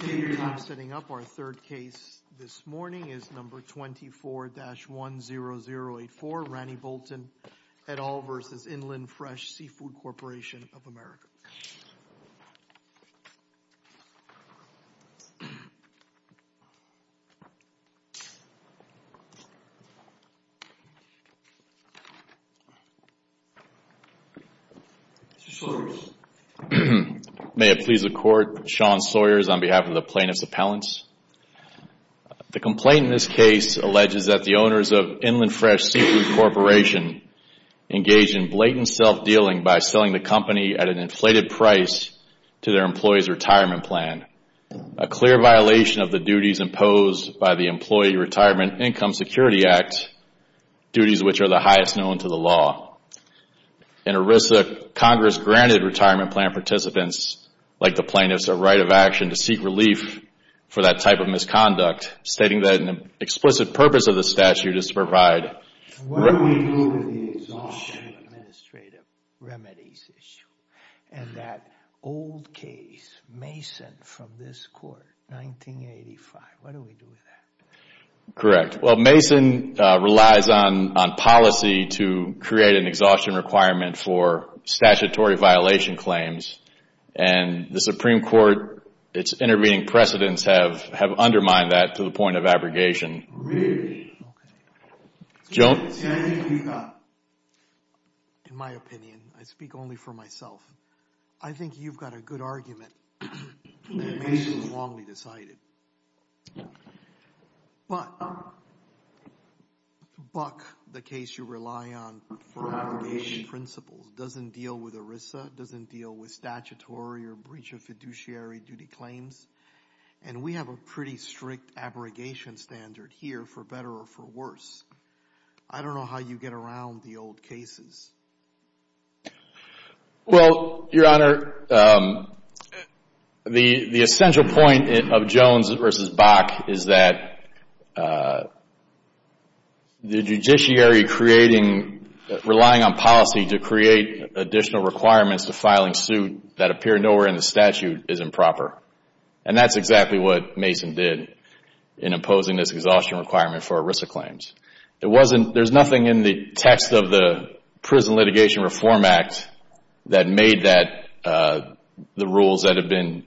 Take your time setting up our third case. This morning is No. 24-10084, Rani Bolton et al. v. Inland Fresh Seafood Corporation of America. Mr. Sawyers. May it please the Court, Sean Sawyers on behalf of the Plaintiffs' Appellants. The complaint in this case alleges that the owners of Inland Fresh Seafood Corporation engage in blatant self-dealing by selling the company at an inflated price to their employees' retirement plan, a clear violation of the duties imposed by the Employee Retirement Income Security Act, duties which are the highest known to the law. In ERISA, Congress granted retirement plan participants, like the plaintiffs, a right of action to seek relief for that type of misconduct, stating that an explicit purpose of the statute is to provide... What do we do with the exhaustion of administrative remedies issue and that old case, Mason, from this Court, 1985, what do we do with that? Correct. Well, Mason relies on policy to create an exhaustion requirement for statutory violation claims, and the Supreme Court, its intervening precedents have undermined that to the point of abrogation. Really? Okay. Joan? See, I think you've got, in my opinion, I speak only for myself, I think you've got a good argument that Mason's wrongly decided, but Buck, the case you rely on for abrogation principles, doesn't deal with ERISA, doesn't deal with statutory or breach of fiduciary duty claims, and we have a pretty strict abrogation standard here, for better or for worse. I don't know how you get around the old cases. Well, Your Honor, the essential point of Jones versus Buck is that the judiciary relying on policy to create additional requirements to filing suit that appear nowhere in the statute is improper, and that's exactly what Mason did in imposing this exhaustion requirement for ERISA claims. It wasn't, there's nothing in the text of the Prison Litigation Reform Act that made that, the rules that have been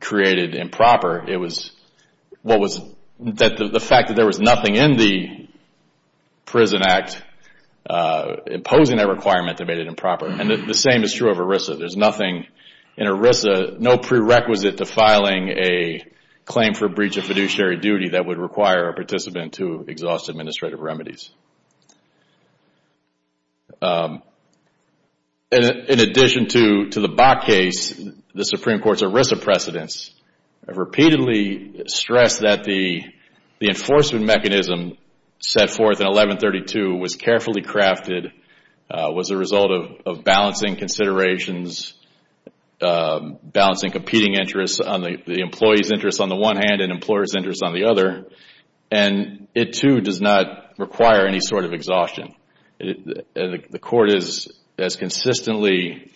created improper. It was, what was, the fact that there was nothing in the Prison Act imposing that requirement that made it improper, and the same is true of ERISA. There's nothing in ERISA, no prerequisite to filing a claim for breach of fiduciary duty that would require a participant to exhaust administrative remedies. In addition to the Buck case, the Supreme Court's ERISA precedents have repeatedly stressed that the enforcement mechanism set forth in 1132 was carefully crafted, was a result of balancing considerations, balancing competing interests on the employee's interest on the other, and it too does not require any sort of exhaustion. The court has consistently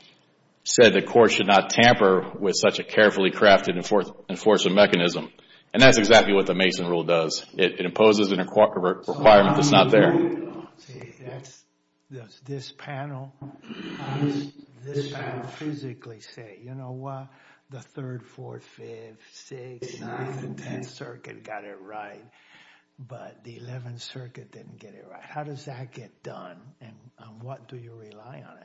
said the court should not tamper with such a carefully crafted enforcement mechanism, and that's exactly what the Mason rule does. It imposes a requirement that's not there. See, that's, this panel, this panel physically say, you know what, the 3rd, 4th, 5th, 6th, 7th, and 10th Circuit got it right, but the 11th Circuit didn't get it right. How does that get done, and what do you rely on?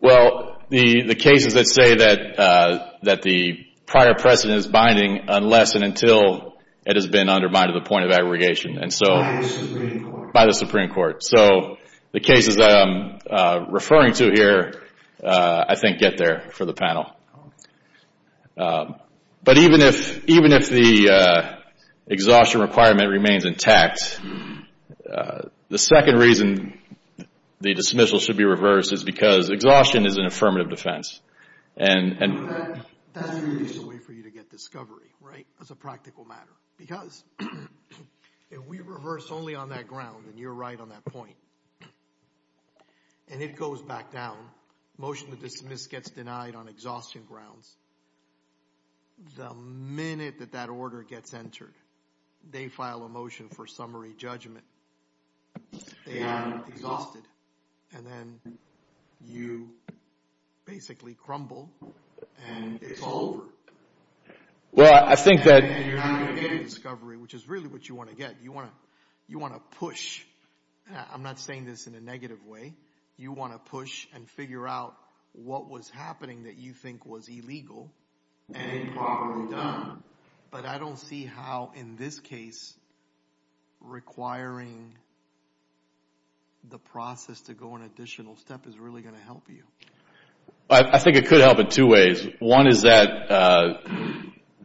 Well, the cases that say that the prior precedent is binding unless and until it has been undermined to the point of aggregation, and so by the Supreme Court. So the cases that I'm referring to here, I think, get there for the panel. But even if, even if the exhaustion requirement remains intact, the second reason the dismissal should be reversed is because exhaustion is an affirmative defense, and that's a way for If we reverse only on that ground, and you're right on that point, and it goes back down, motion to dismiss gets denied on exhaustion grounds, the minute that that order gets entered, they file a motion for summary judgment, they are exhausted, and then you basically crumble, and it's over. And you're not going to get a discovery, which is really what you want to get. You want to push. I'm not saying this in a negative way. You want to push and figure out what was happening that you think was illegal and improperly done. But I don't see how, in this case, requiring the process to go an additional step is really going to help you. I think it could help in two ways. One is that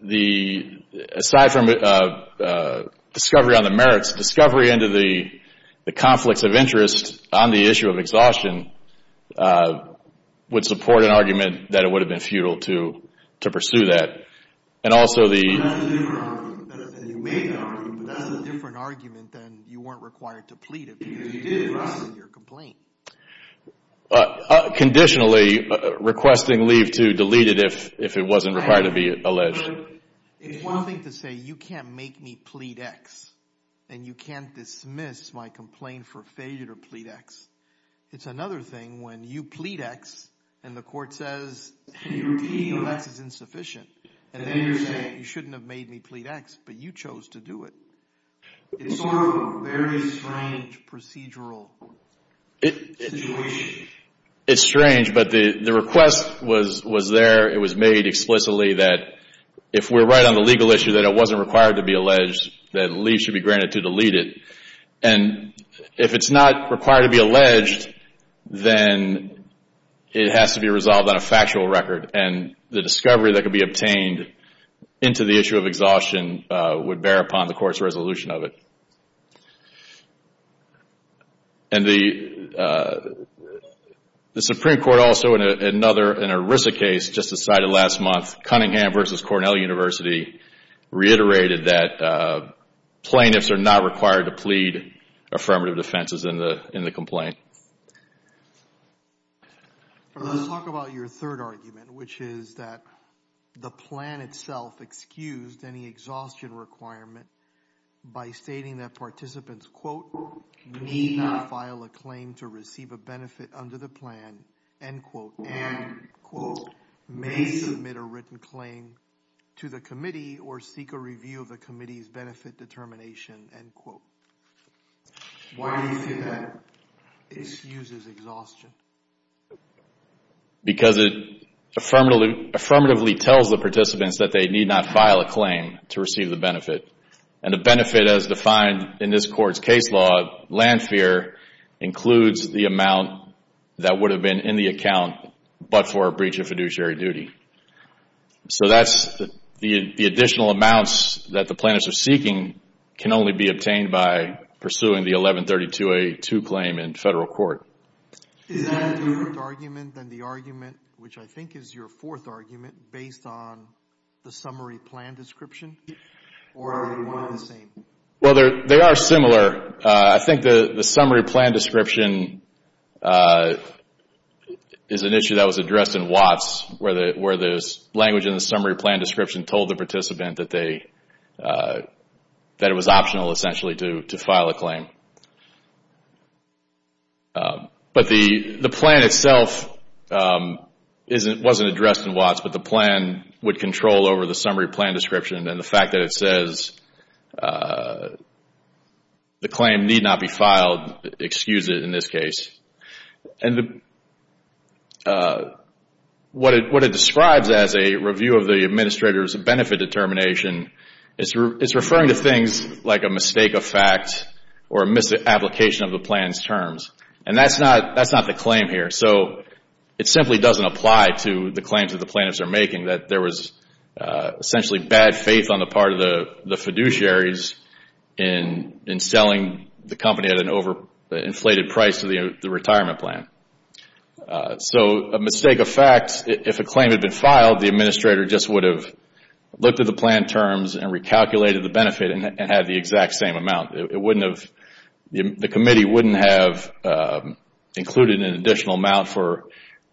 the, aside from discovery on the merits, discovery into the conflicts of interest on the issue of exhaustion would support an argument that it would have been futile to pursue that. And also the That's a different argument than you weren't required to plead it because you didn't receive your complaint. Conditionally, requesting leave to delete it if it wasn't required to be alleged. It's one thing to say, you can't make me plead X, and you can't dismiss my complaint for failure to plead X. It's another thing when you plead X and the court says, you're pleading X is insufficient. And then you're saying, you shouldn't have made me plead X, but you chose to do it. It's sort of a very strange procedural situation. It's strange, but the request was there. It was made explicitly that if we're right on the legal issue that it wasn't required to be alleged, that leave should be granted to delete it. And if it's not required to be alleged, then it has to be resolved on a factual record. And the discovery that could be obtained into the issue of exhaustion would bear upon the court's resolution of it. And the Supreme Court also in another, an ERISA case just decided last month, Cunningham v. Cornell University reiterated that plaintiffs are not required to plead affirmative defenses in the complaint. Let's talk about your third argument, which is that the plan itself excused any exhaustion requirement by stating that participants, quote, need not file a claim to receive a benefit under the plan, end quote, and, quote, may submit a written claim to the committee or seek a review of the committee's benefit determination, end quote. Why do you think that excuses exhaustion? Because it affirmatively tells the participants that they need not file a claim to receive the benefit. And the benefit as defined in this court's case law, land fear, includes the amount that would have been in the account but for a breach of fiduciary duty. So that's the additional amounts that the plaintiffs are seeking can only be obtained by pursuing the 1132A2 claim in federal court. Is that a different argument than the argument, which I think is your fourth argument, based on the summary plan description? Or are they one and the same? Well, they are similar. I think the summary plan description is an issue that was addressed in Watts, where the language in the summary plan description told the participant that it was optional, essentially, to file a claim. But the plan itself wasn't addressed in Watts, but the plan would control over the summary plan description and the fact that it says the claim need not be filed, excuse it in this case. And what it describes as a review of the administrator's benefit determination, it's referring to things like a mistake of fact or a misapplication of the plan's terms. And that's not the claim here. So it simply doesn't apply to the claims that the plaintiffs are making, that there was essentially bad faith on the part of the fiduciaries in selling the company at an overinflated price to the retirement plan. So a mistake of fact, if a claim had been filed, the administrator just would have looked at the plan terms and recalculated the benefit and had the exact same amount. The committee wouldn't have included an additional amount for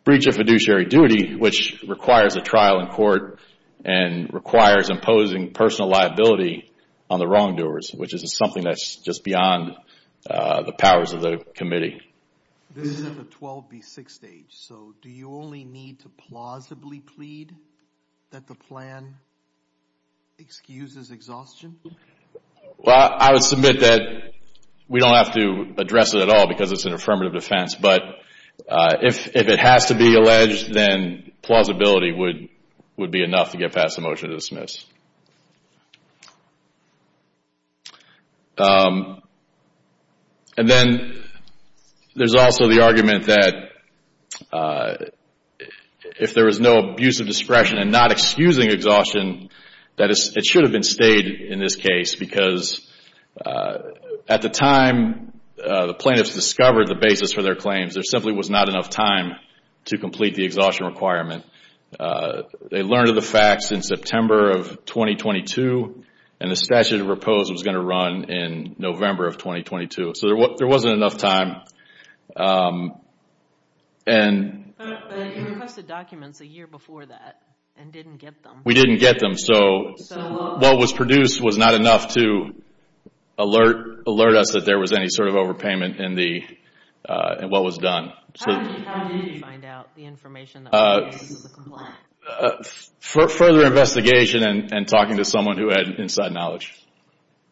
breach of fiduciary duty, which requires a trial in court and requires imposing personal liability on the wrongdoers, which is something that's just beyond the powers of the committee. This is at the 12B6 stage, so do you only need to plausibly plead that the plan excuses exhaustion? Well, I would submit that we don't have to address it at all because it's an affirmative defense. But if it has to be alleged, then plausibility would be enough to get past the motion to dismiss. And then there's also the argument that if there was no abuse of discretion and not excusing exhaustion, that it should have been stayed in this case because at the time the plaintiffs discovered the basis for their claims, there simply was not enough time to complete the exhaustion requirement. They learned of the facts in September of 2022, and the statute of repose was going to run in November of 2022. So there wasn't enough time. But you requested documents a year before that and didn't get them. We didn't get them. So what was produced was not enough to alert us that there was any sort of overpayment in what was done. How did you find out the information on the basis of the complaint? Further investigation and talking to someone who had inside knowledge.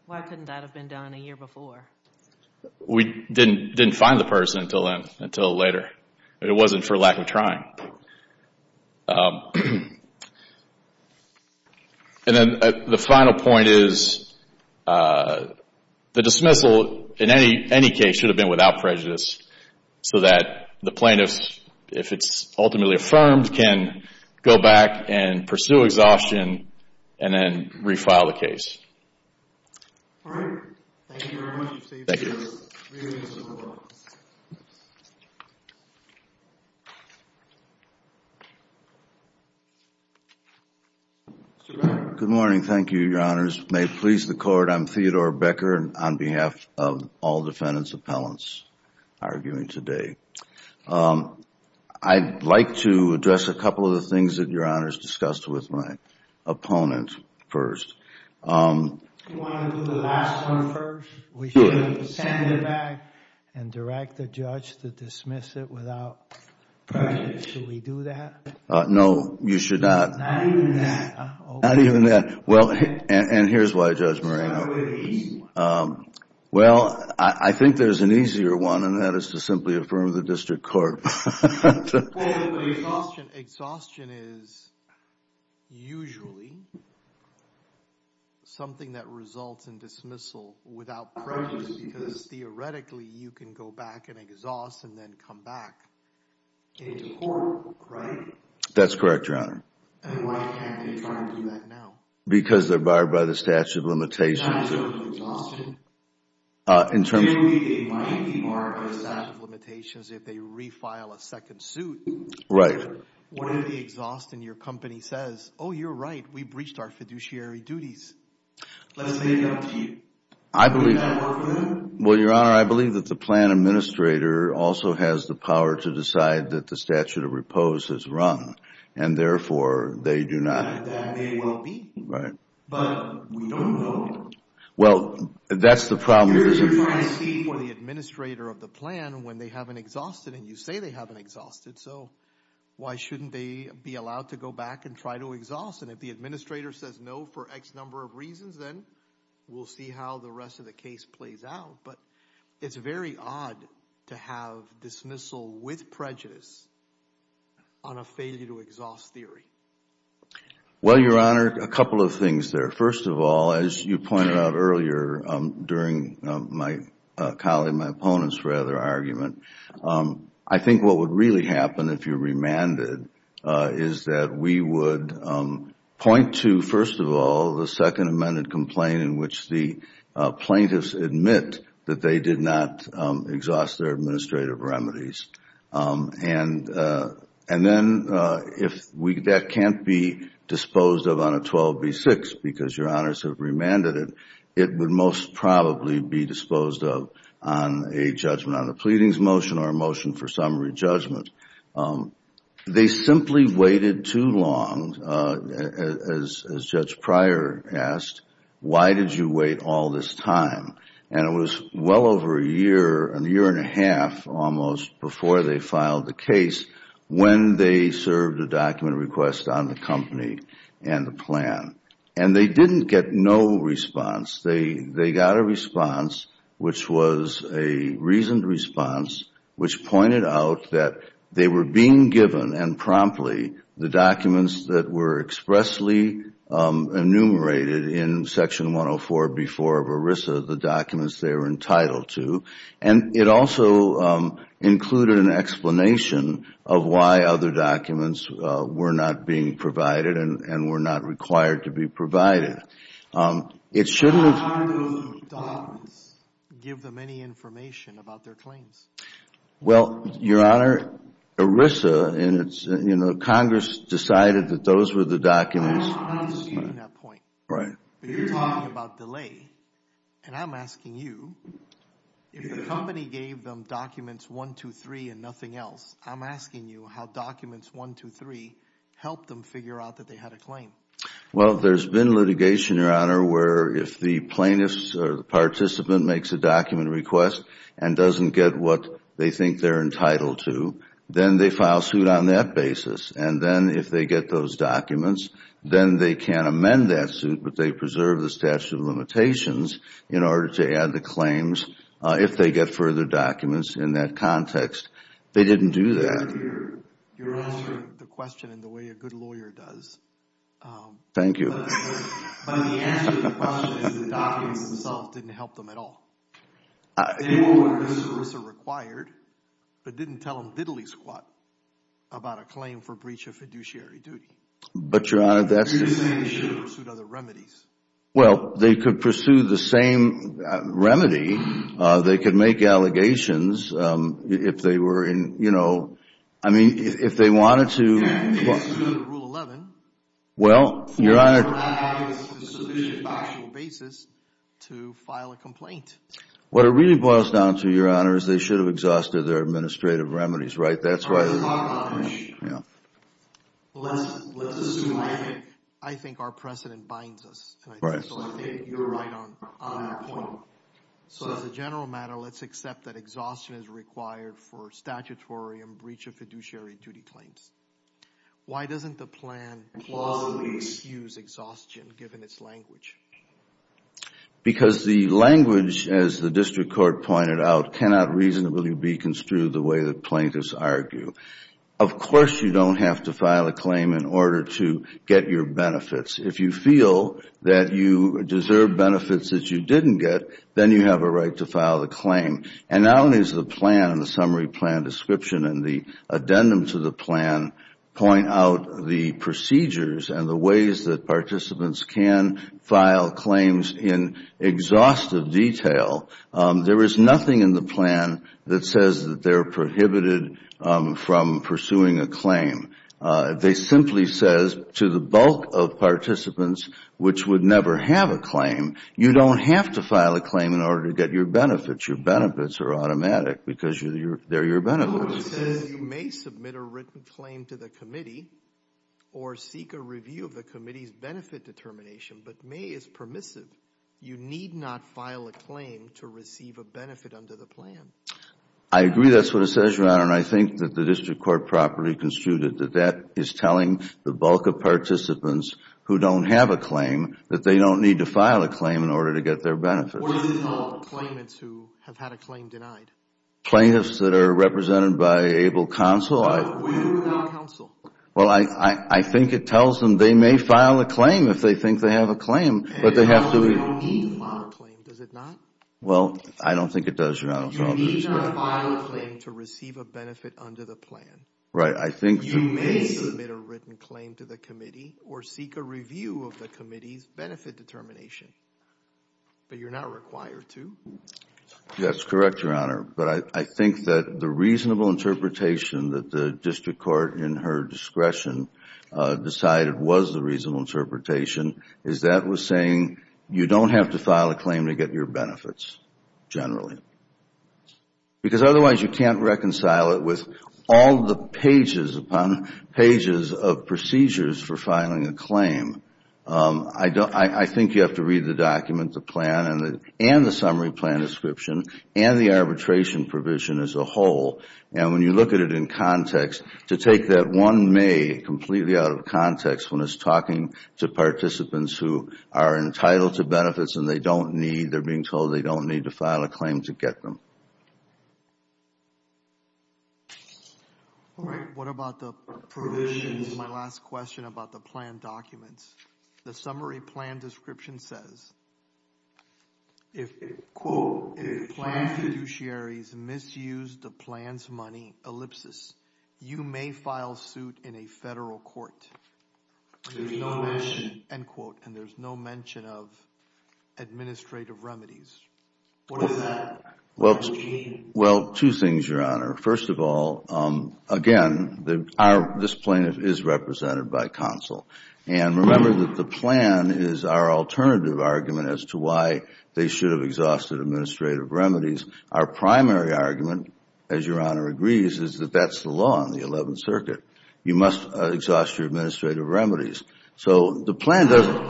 Why couldn't that have been done a year before? We didn't find the person until later. It wasn't for lack of trying. And then the final point is the dismissal, in any case, should have been without prejudice so that the plaintiffs, if it's ultimately affirmed, can go back and pursue exhaustion and then refile the case. All right. Thank you very much. Thank you. Good morning. Thank you, Your Honors. May it please the Court, I'm Theodore Becker on behalf of all defendants' appellants arguing today. I'd like to address a couple of the things that Your Honors discussed with my opponent first. Do you want to do the last one first? Sure. We should send it back and direct the judge to dismiss it without prejudice. Should we do that? No, you should not. Not even that? Not even that. And here's why, Judge Moreno. It's not a very easy one. Well, I think there's an easier one, and that is to simply affirm the district court. Exhaustion is usually something that results in dismissal without prejudice because theoretically you can go back and exhaust and then come back into court, right? That's correct, Your Honor. And why can't they try and do that now? Because they're barred by the statute of limitations. In terms of exhaustion? In terms of? There would be a mighty mark of statute of limitations if they refile a second suit. Right. What if the exhaust in your company says, oh, you're right, we breached our fiduciary duties? Let's make it up to you. I believe that. Would that work for them? Well, Your Honor, I believe that the plan administrator also has the power to decide that the statute of repose is wrung, and therefore they do not. That may well be. Right. But we don't know. Well, that's the problem. You're trying to see for the administrator of the plan when they haven't exhausted, and you say they haven't exhausted, so why shouldn't they be allowed to go back and try to exhaust? And if the administrator says no for X number of reasons, then we'll see how the rest of the case plays out. But it's very odd to have dismissal with prejudice on a failure to exhaust theory. Well, Your Honor, a couple of things there. First of all, as you pointed out earlier during my colleague, my opponent's rather, argument, I think what would really happen if you remanded is that we would point to, first of all, the second amended complaint in which the plaintiffs admit that they did not exhaust their administrative remedies. And then if that can't be disposed of on a 12B6 because Your Honors have remanded it, it would most probably be disposed of on a judgment on a pleadings motion or a motion for summary judgment. They simply waited too long, as Judge Pryor asked, why did you wait all this time? And it was well over a year, a year and a half almost, before they filed the case, when they served a document request on the company and the plan. And they didn't get no response. They got a response which was a reasoned response which pointed out that they were being given, and promptly, the documents that were expressly enumerated in Section 104B4 of ERISA, the documents they were entitled to. And it also included an explanation of why other documents were not being provided and were not required to be provided. It shouldn't have been. Why didn't the docs give them any information about their claims? Well, Your Honor, ERISA, and it's, you know, Congress decided that those were the documents. I'm not understanding that point. Right. You're talking about delay, and I'm asking you, if the company gave them documents 123 and nothing else, I'm asking you how documents 123 helped them figure out that they had a claim. Well, there's been litigation, Your Honor, where if the plaintiffs or the participant makes a document request and doesn't get what they think they're entitled to, then they file suit on that basis. And then if they get those documents, then they can amend that suit, but they preserve the statute of limitations in order to add the claims if they get further documents in that context. They didn't do that. You're answering the question in the way a good lawyer does. Thank you. But the answer to the question is the documents themselves didn't help them at all. They knew what ERISA required but didn't tell them diddly squat about a claim for breach of fiduciary duty. But, Your Honor, that's just You're just saying they should have pursued other remedies. Well, they could pursue the same remedy. They could make allegations if they were in, you know, I mean, if they wanted to Well, Your Honor What it really boils down to, Your Honor, is they should have exhausted their administrative remedies, right? That's why Yeah. I think our precedent binds us, and I think you're right on that point. So as a general matter, let's accept that exhaustion is required for statutory and breach of fiduciary duty claims. Why doesn't the plan plausibly excuse exhaustion given its language? Because the language, as the district court pointed out, cannot reasonably be construed the way that plaintiffs argue. Of course you don't have to file a claim in order to get your benefits. If you feel that you deserve benefits that you didn't get, then you have a right to file the claim. And not only does the plan and the summary plan description and the addendum to the plan point out the procedures and the ways that participants can file claims in exhaustive detail, there is nothing in the plan that says that they're prohibited from pursuing a claim. They simply says to the bulk of participants, which would never have a claim, you don't have to file a claim in order to get your benefits. Your benefits are automatic because they're your benefits. No, it says you may submit a written claim to the committee or seek a review of the committee's benefit determination, but may is permissive. You need not file a claim to receive a benefit under the plan. I agree. That's what it says, Ron, and I think that the district court properly construed it, that that is telling the bulk of participants who don't have a claim that they don't need to file a claim in order to get their benefits. What is it called? Claimants who have had a claim denied. Plaintiffs that are represented by able counsel. What do you mean by counsel? Well, I think it tells them they may file a claim if they think they have a claim, but they have to. It tells them they don't need to file a claim, does it not? Well, I don't think it does, Your Honor. You need not file a claim to receive a benefit under the plan. Right. You may submit a written claim to the committee or seek a review of the committee's benefit determination, but you're not required to. That's correct, Your Honor. But I think that the reasonable interpretation that the district court, in her discretion, decided was the reasonable interpretation, is that was saying you don't have to file a claim to get your benefits, generally. Because otherwise you can't reconcile it with all the pages upon pages of procedures for filing a claim. I think you have to read the document, the plan, and the summary plan description, and the arbitration provision as a whole. And when you look at it in context, to take that one may completely out of context when it's talking to participants who are entitled to benefits and they don't need, they're being told they don't need to file a claim to get them. All right. What about the provisions? My last question about the plan documents. The summary plan description says, quote, if plan fiduciaries misuse the plan's money, ellipsis, you may file suit in a federal court. There's no mention, end quote, and there's no mention of administrative remedies. What does that mean? Well, two things, Your Honor. First of all, again, this plaintiff is represented by counsel. And remember that the plan is our alternative argument as to why they should have exhausted administrative remedies. Our primary argument, as Your Honor agrees, is that that's the law in the Eleventh Circuit. You must exhaust your administrative remedies. So the plan doesn't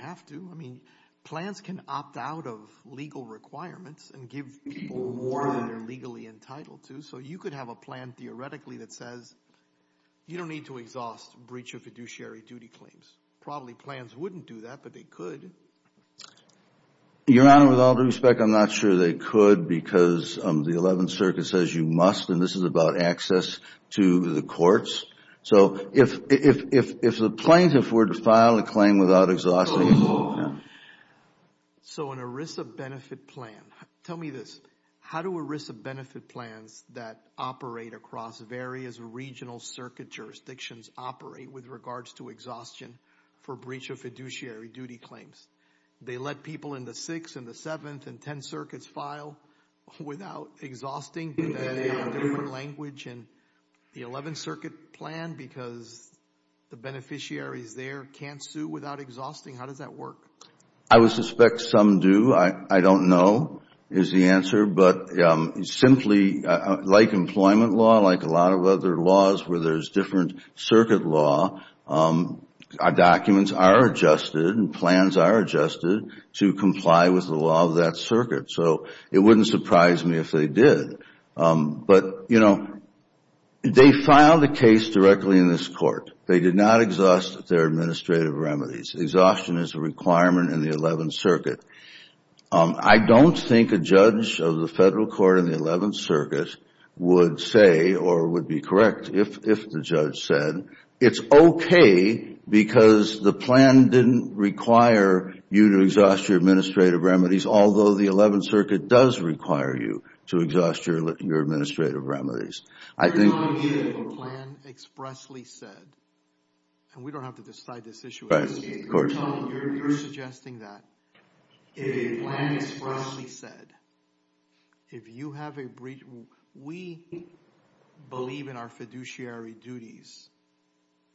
have to. I mean, plans can opt out of legal requirements and give people more than they're legally entitled to. So you could have a plan, theoretically, that says you don't need to exhaust breach of fiduciary duty claims. Probably plans wouldn't do that, but they could. Your Honor, with all due respect, I'm not sure they could because the Eleventh Circuit says you must, and this is about access to the courts. So if the plaintiff were to file a claim without exhausting it, no. So an ERISA benefit plan. Tell me this. How do ERISA benefit plans that operate across various regional circuit jurisdictions operate with regards to exhaustion for breach of fiduciary duty claims? They let people in the Sixth and the Seventh and Tenth Circuits file without exhausting. They have a different language in the Eleventh Circuit plan because the beneficiaries there can't sue without exhausting. How does that work? I would suspect some do. I don't know is the answer. But simply, like employment law, like a lot of other laws where there's different circuit law, documents are adjusted and plans are adjusted to comply with the law of that circuit. So it wouldn't surprise me if they did. But, you know, they filed a case directly in this court. They did not exhaust their administrative remedies. Exhaustion is a requirement in the Eleventh Circuit. I don't think a judge of the Federal Court in the Eleventh Circuit would say or would be correct if the judge said it's okay because the plan didn't require you to exhaust your administrative remedies, although the Eleventh Circuit does require you to exhaust your administrative remedies. If a plan expressly said, and we don't have to decide this issue, you're suggesting that if a plan expressly said, if you have a breach, we believe in our fiduciary duties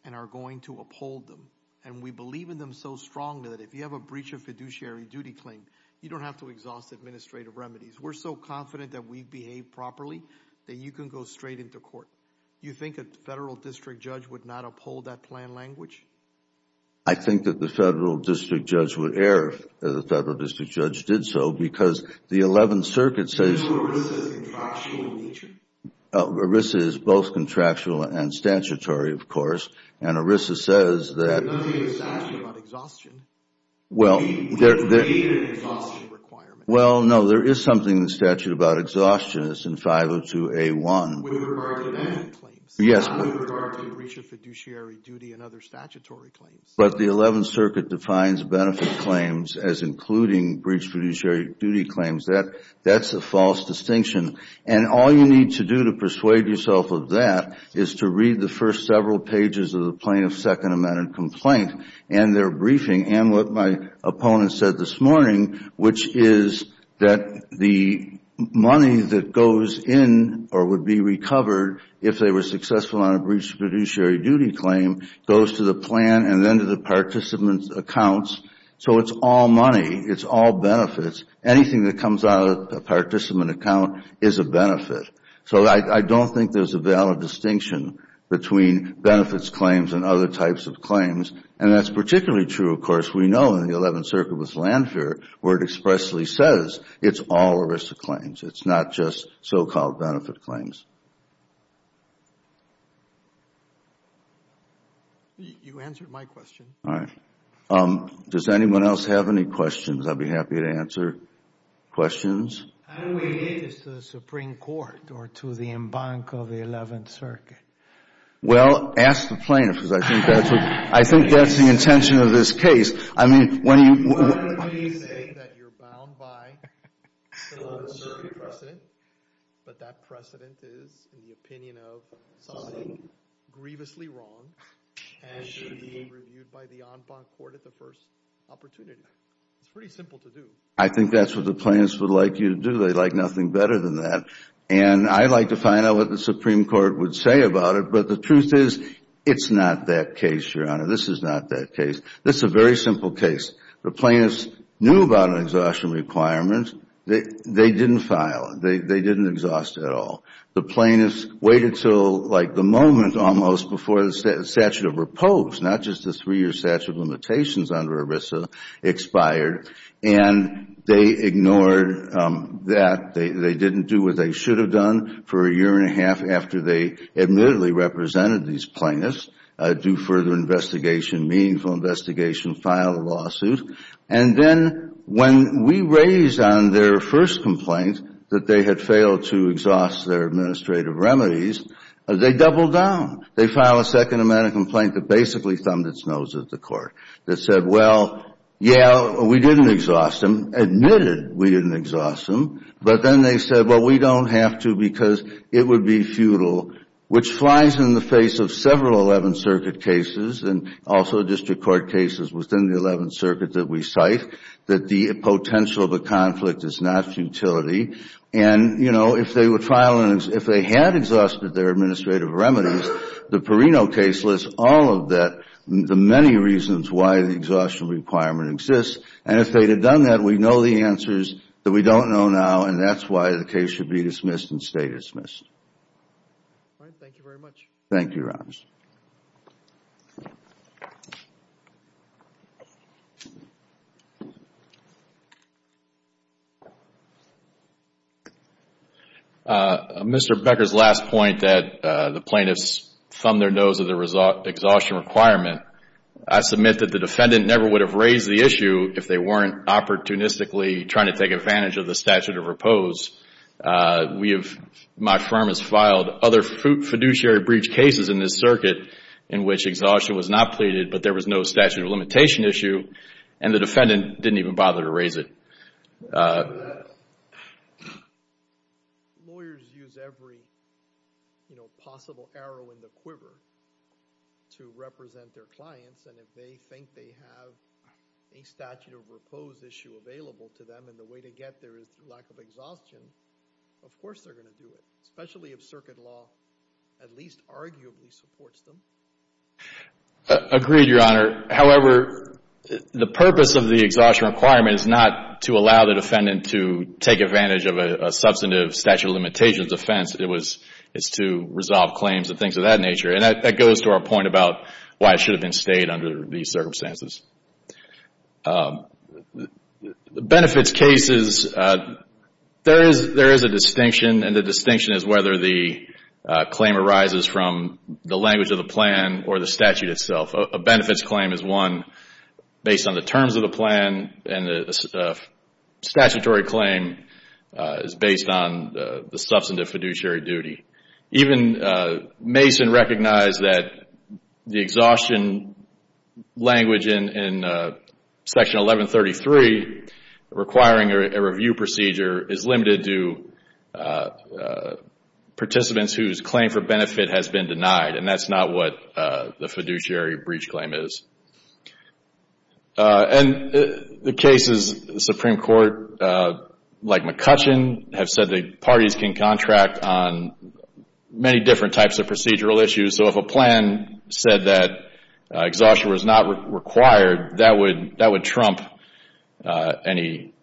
and are going to uphold them. And we believe in them so strongly that if you have a breach of fiduciary duty claim, you don't have to exhaust administrative remedies. We're so confident that we behave properly that you can go straight into court. You think a Federal District Judge would not uphold that plan language? I think that the Federal District Judge would err if the Federal District Judge did so because the Eleventh Circuit says… Is ERISA contractual in nature? ERISA is both contractual and statutory, of course. And ERISA says that… There's nothing in the statute about exhaustion. Well, no, there is something in the statute about exhaustion. It's in 502A1. With regard to that? Yes. With regard to breach of fiduciary duty and other statutory claims? But the Eleventh Circuit defines benefit claims as including breach of fiduciary duty claims. That's a false distinction. And all you need to do to persuade yourself of that is to read the first several pages of the plaintiff's Second Amendment complaint and their briefing and what my opponent said this morning, which is that the money that goes in or would be recovered if they were successful on a breach of fiduciary duty claim goes to the plan and then to the participant's accounts. So it's all money. It's all benefits. Anything that comes out of a participant account is a benefit. So I don't think there's a valid distinction between benefits claims and other types of claims. And that's particularly true, of course, we know in the Eleventh Circuit with Landfare where it expressly says it's all ERISA claims. It's not just so-called benefit claims. You answered my question. All right. Does anyone else have any questions I'd be happy to answer? Questions? How do we get this to the Supreme Court or to the embankment of the Eleventh Circuit? Well, ask the plaintiff because I think that's the intention of this case. I mean, when you say that you're bound by the Eleventh Circuit precedent, but that precedent is the opinion of somebody grievously wrong and should be reviewed by the en banc court at the first opportunity. It's pretty simple to do. I think that's what the plaintiffs would like you to do. They'd like nothing better than that. And I'd like to find out what the Supreme Court would say about it, but the truth is it's not that case, Your Honor. This is not that case. This is a very simple case. The plaintiffs knew about an exhaustion requirement. They didn't file it. They didn't exhaust it at all. The plaintiffs waited until like the moment almost before the statute of repose, not just the three-year statute of limitations under ERISA, expired. And they ignored that. They didn't do what they should have done for a year and a half after they admittedly represented these plaintiffs, do further investigation, meaningful investigation, file a lawsuit. And then when we raised on their first complaint that they had failed to exhaust their administrative remedies, they doubled down. They filed a second amendment complaint that basically thumbed its nose at the court, that said, well, yeah, we didn't exhaust them, admitted we didn't exhaust them, but then they said, well, we don't have to because it would be futile, which flies in the face of several 11th Circuit cases and also district court cases within the 11th Circuit that we cite, that the potential of a conflict is not futility. And, you know, if they were filing, if they had exhausted their administrative remedies, the Perino case lists all of that, the many reasons why the exhaustion requirement exists. And if they had done that, we know the answers that we don't know now, and that's why the case should be dismissed and stay dismissed. All right. Thank you very much. Thank you, Your Honors. Mr. Becker's last point that the plaintiffs thumbed their nose at the exhaustion requirement, I submit that the defendant never would have raised the issue if they weren't opportunistically trying to take advantage of the statute of repose. We have, my firm has filed other fiduciary breach cases in this circuit, in which exhaustion was not pleaded, but there was no statute of limitation issue, and the defendant didn't even bother to raise it. Lawyers use every possible arrow in the quiver to represent their clients, and if they think they have a statute of repose issue available to them and the way to get there is through lack of exhaustion, of course they're going to do it, especially if circuit law at least arguably supports them. Agreed, Your Honor. However, the purpose of the exhaustion requirement is not to allow the defendant to take advantage of a substantive statute of limitations offense. It's to resolve claims and things of that nature, and that goes to our point about why it should have been stayed under these circumstances. Benefits cases, there is a distinction, and the distinction is whether the claim arises from the language of the plan or the statute itself. A benefits claim is one based on the terms of the plan, and a statutory claim is based on the substantive fiduciary duty. Even Mason recognized that the exhaustion language in Section 1133, requiring a review procedure, is limited to participants whose claim for benefit has been denied, and that's not what the fiduciary breach claim is. And the cases, the Supreme Court, like McCutcheon, have said that parties can contract on many different types of procedural issues, so if a plan said that exhaustion was not required, that would trump any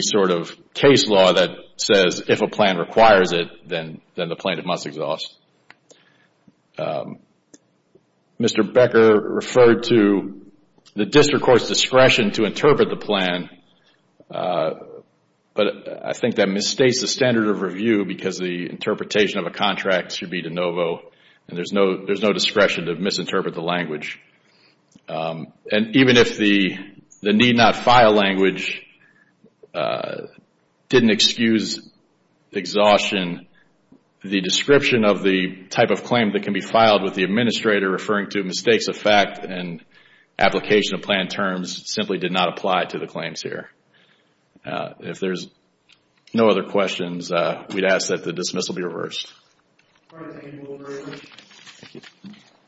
sort of case law that says if a plan requires it, then the plan must exhaust. Mr. Becker referred to the district court's discretion to interpret the plan, but I think that misstates the standard of review because the interpretation of a contract should be de novo, and there's no discretion to misinterpret the language. And even if the need not file language didn't excuse exhaustion, the description of the type of claim that can be filed with the administrator referring to mistakes of fact and application of plan terms simply did not apply to the claims here. If there's no other questions, we'd ask that the dismissal be reversed.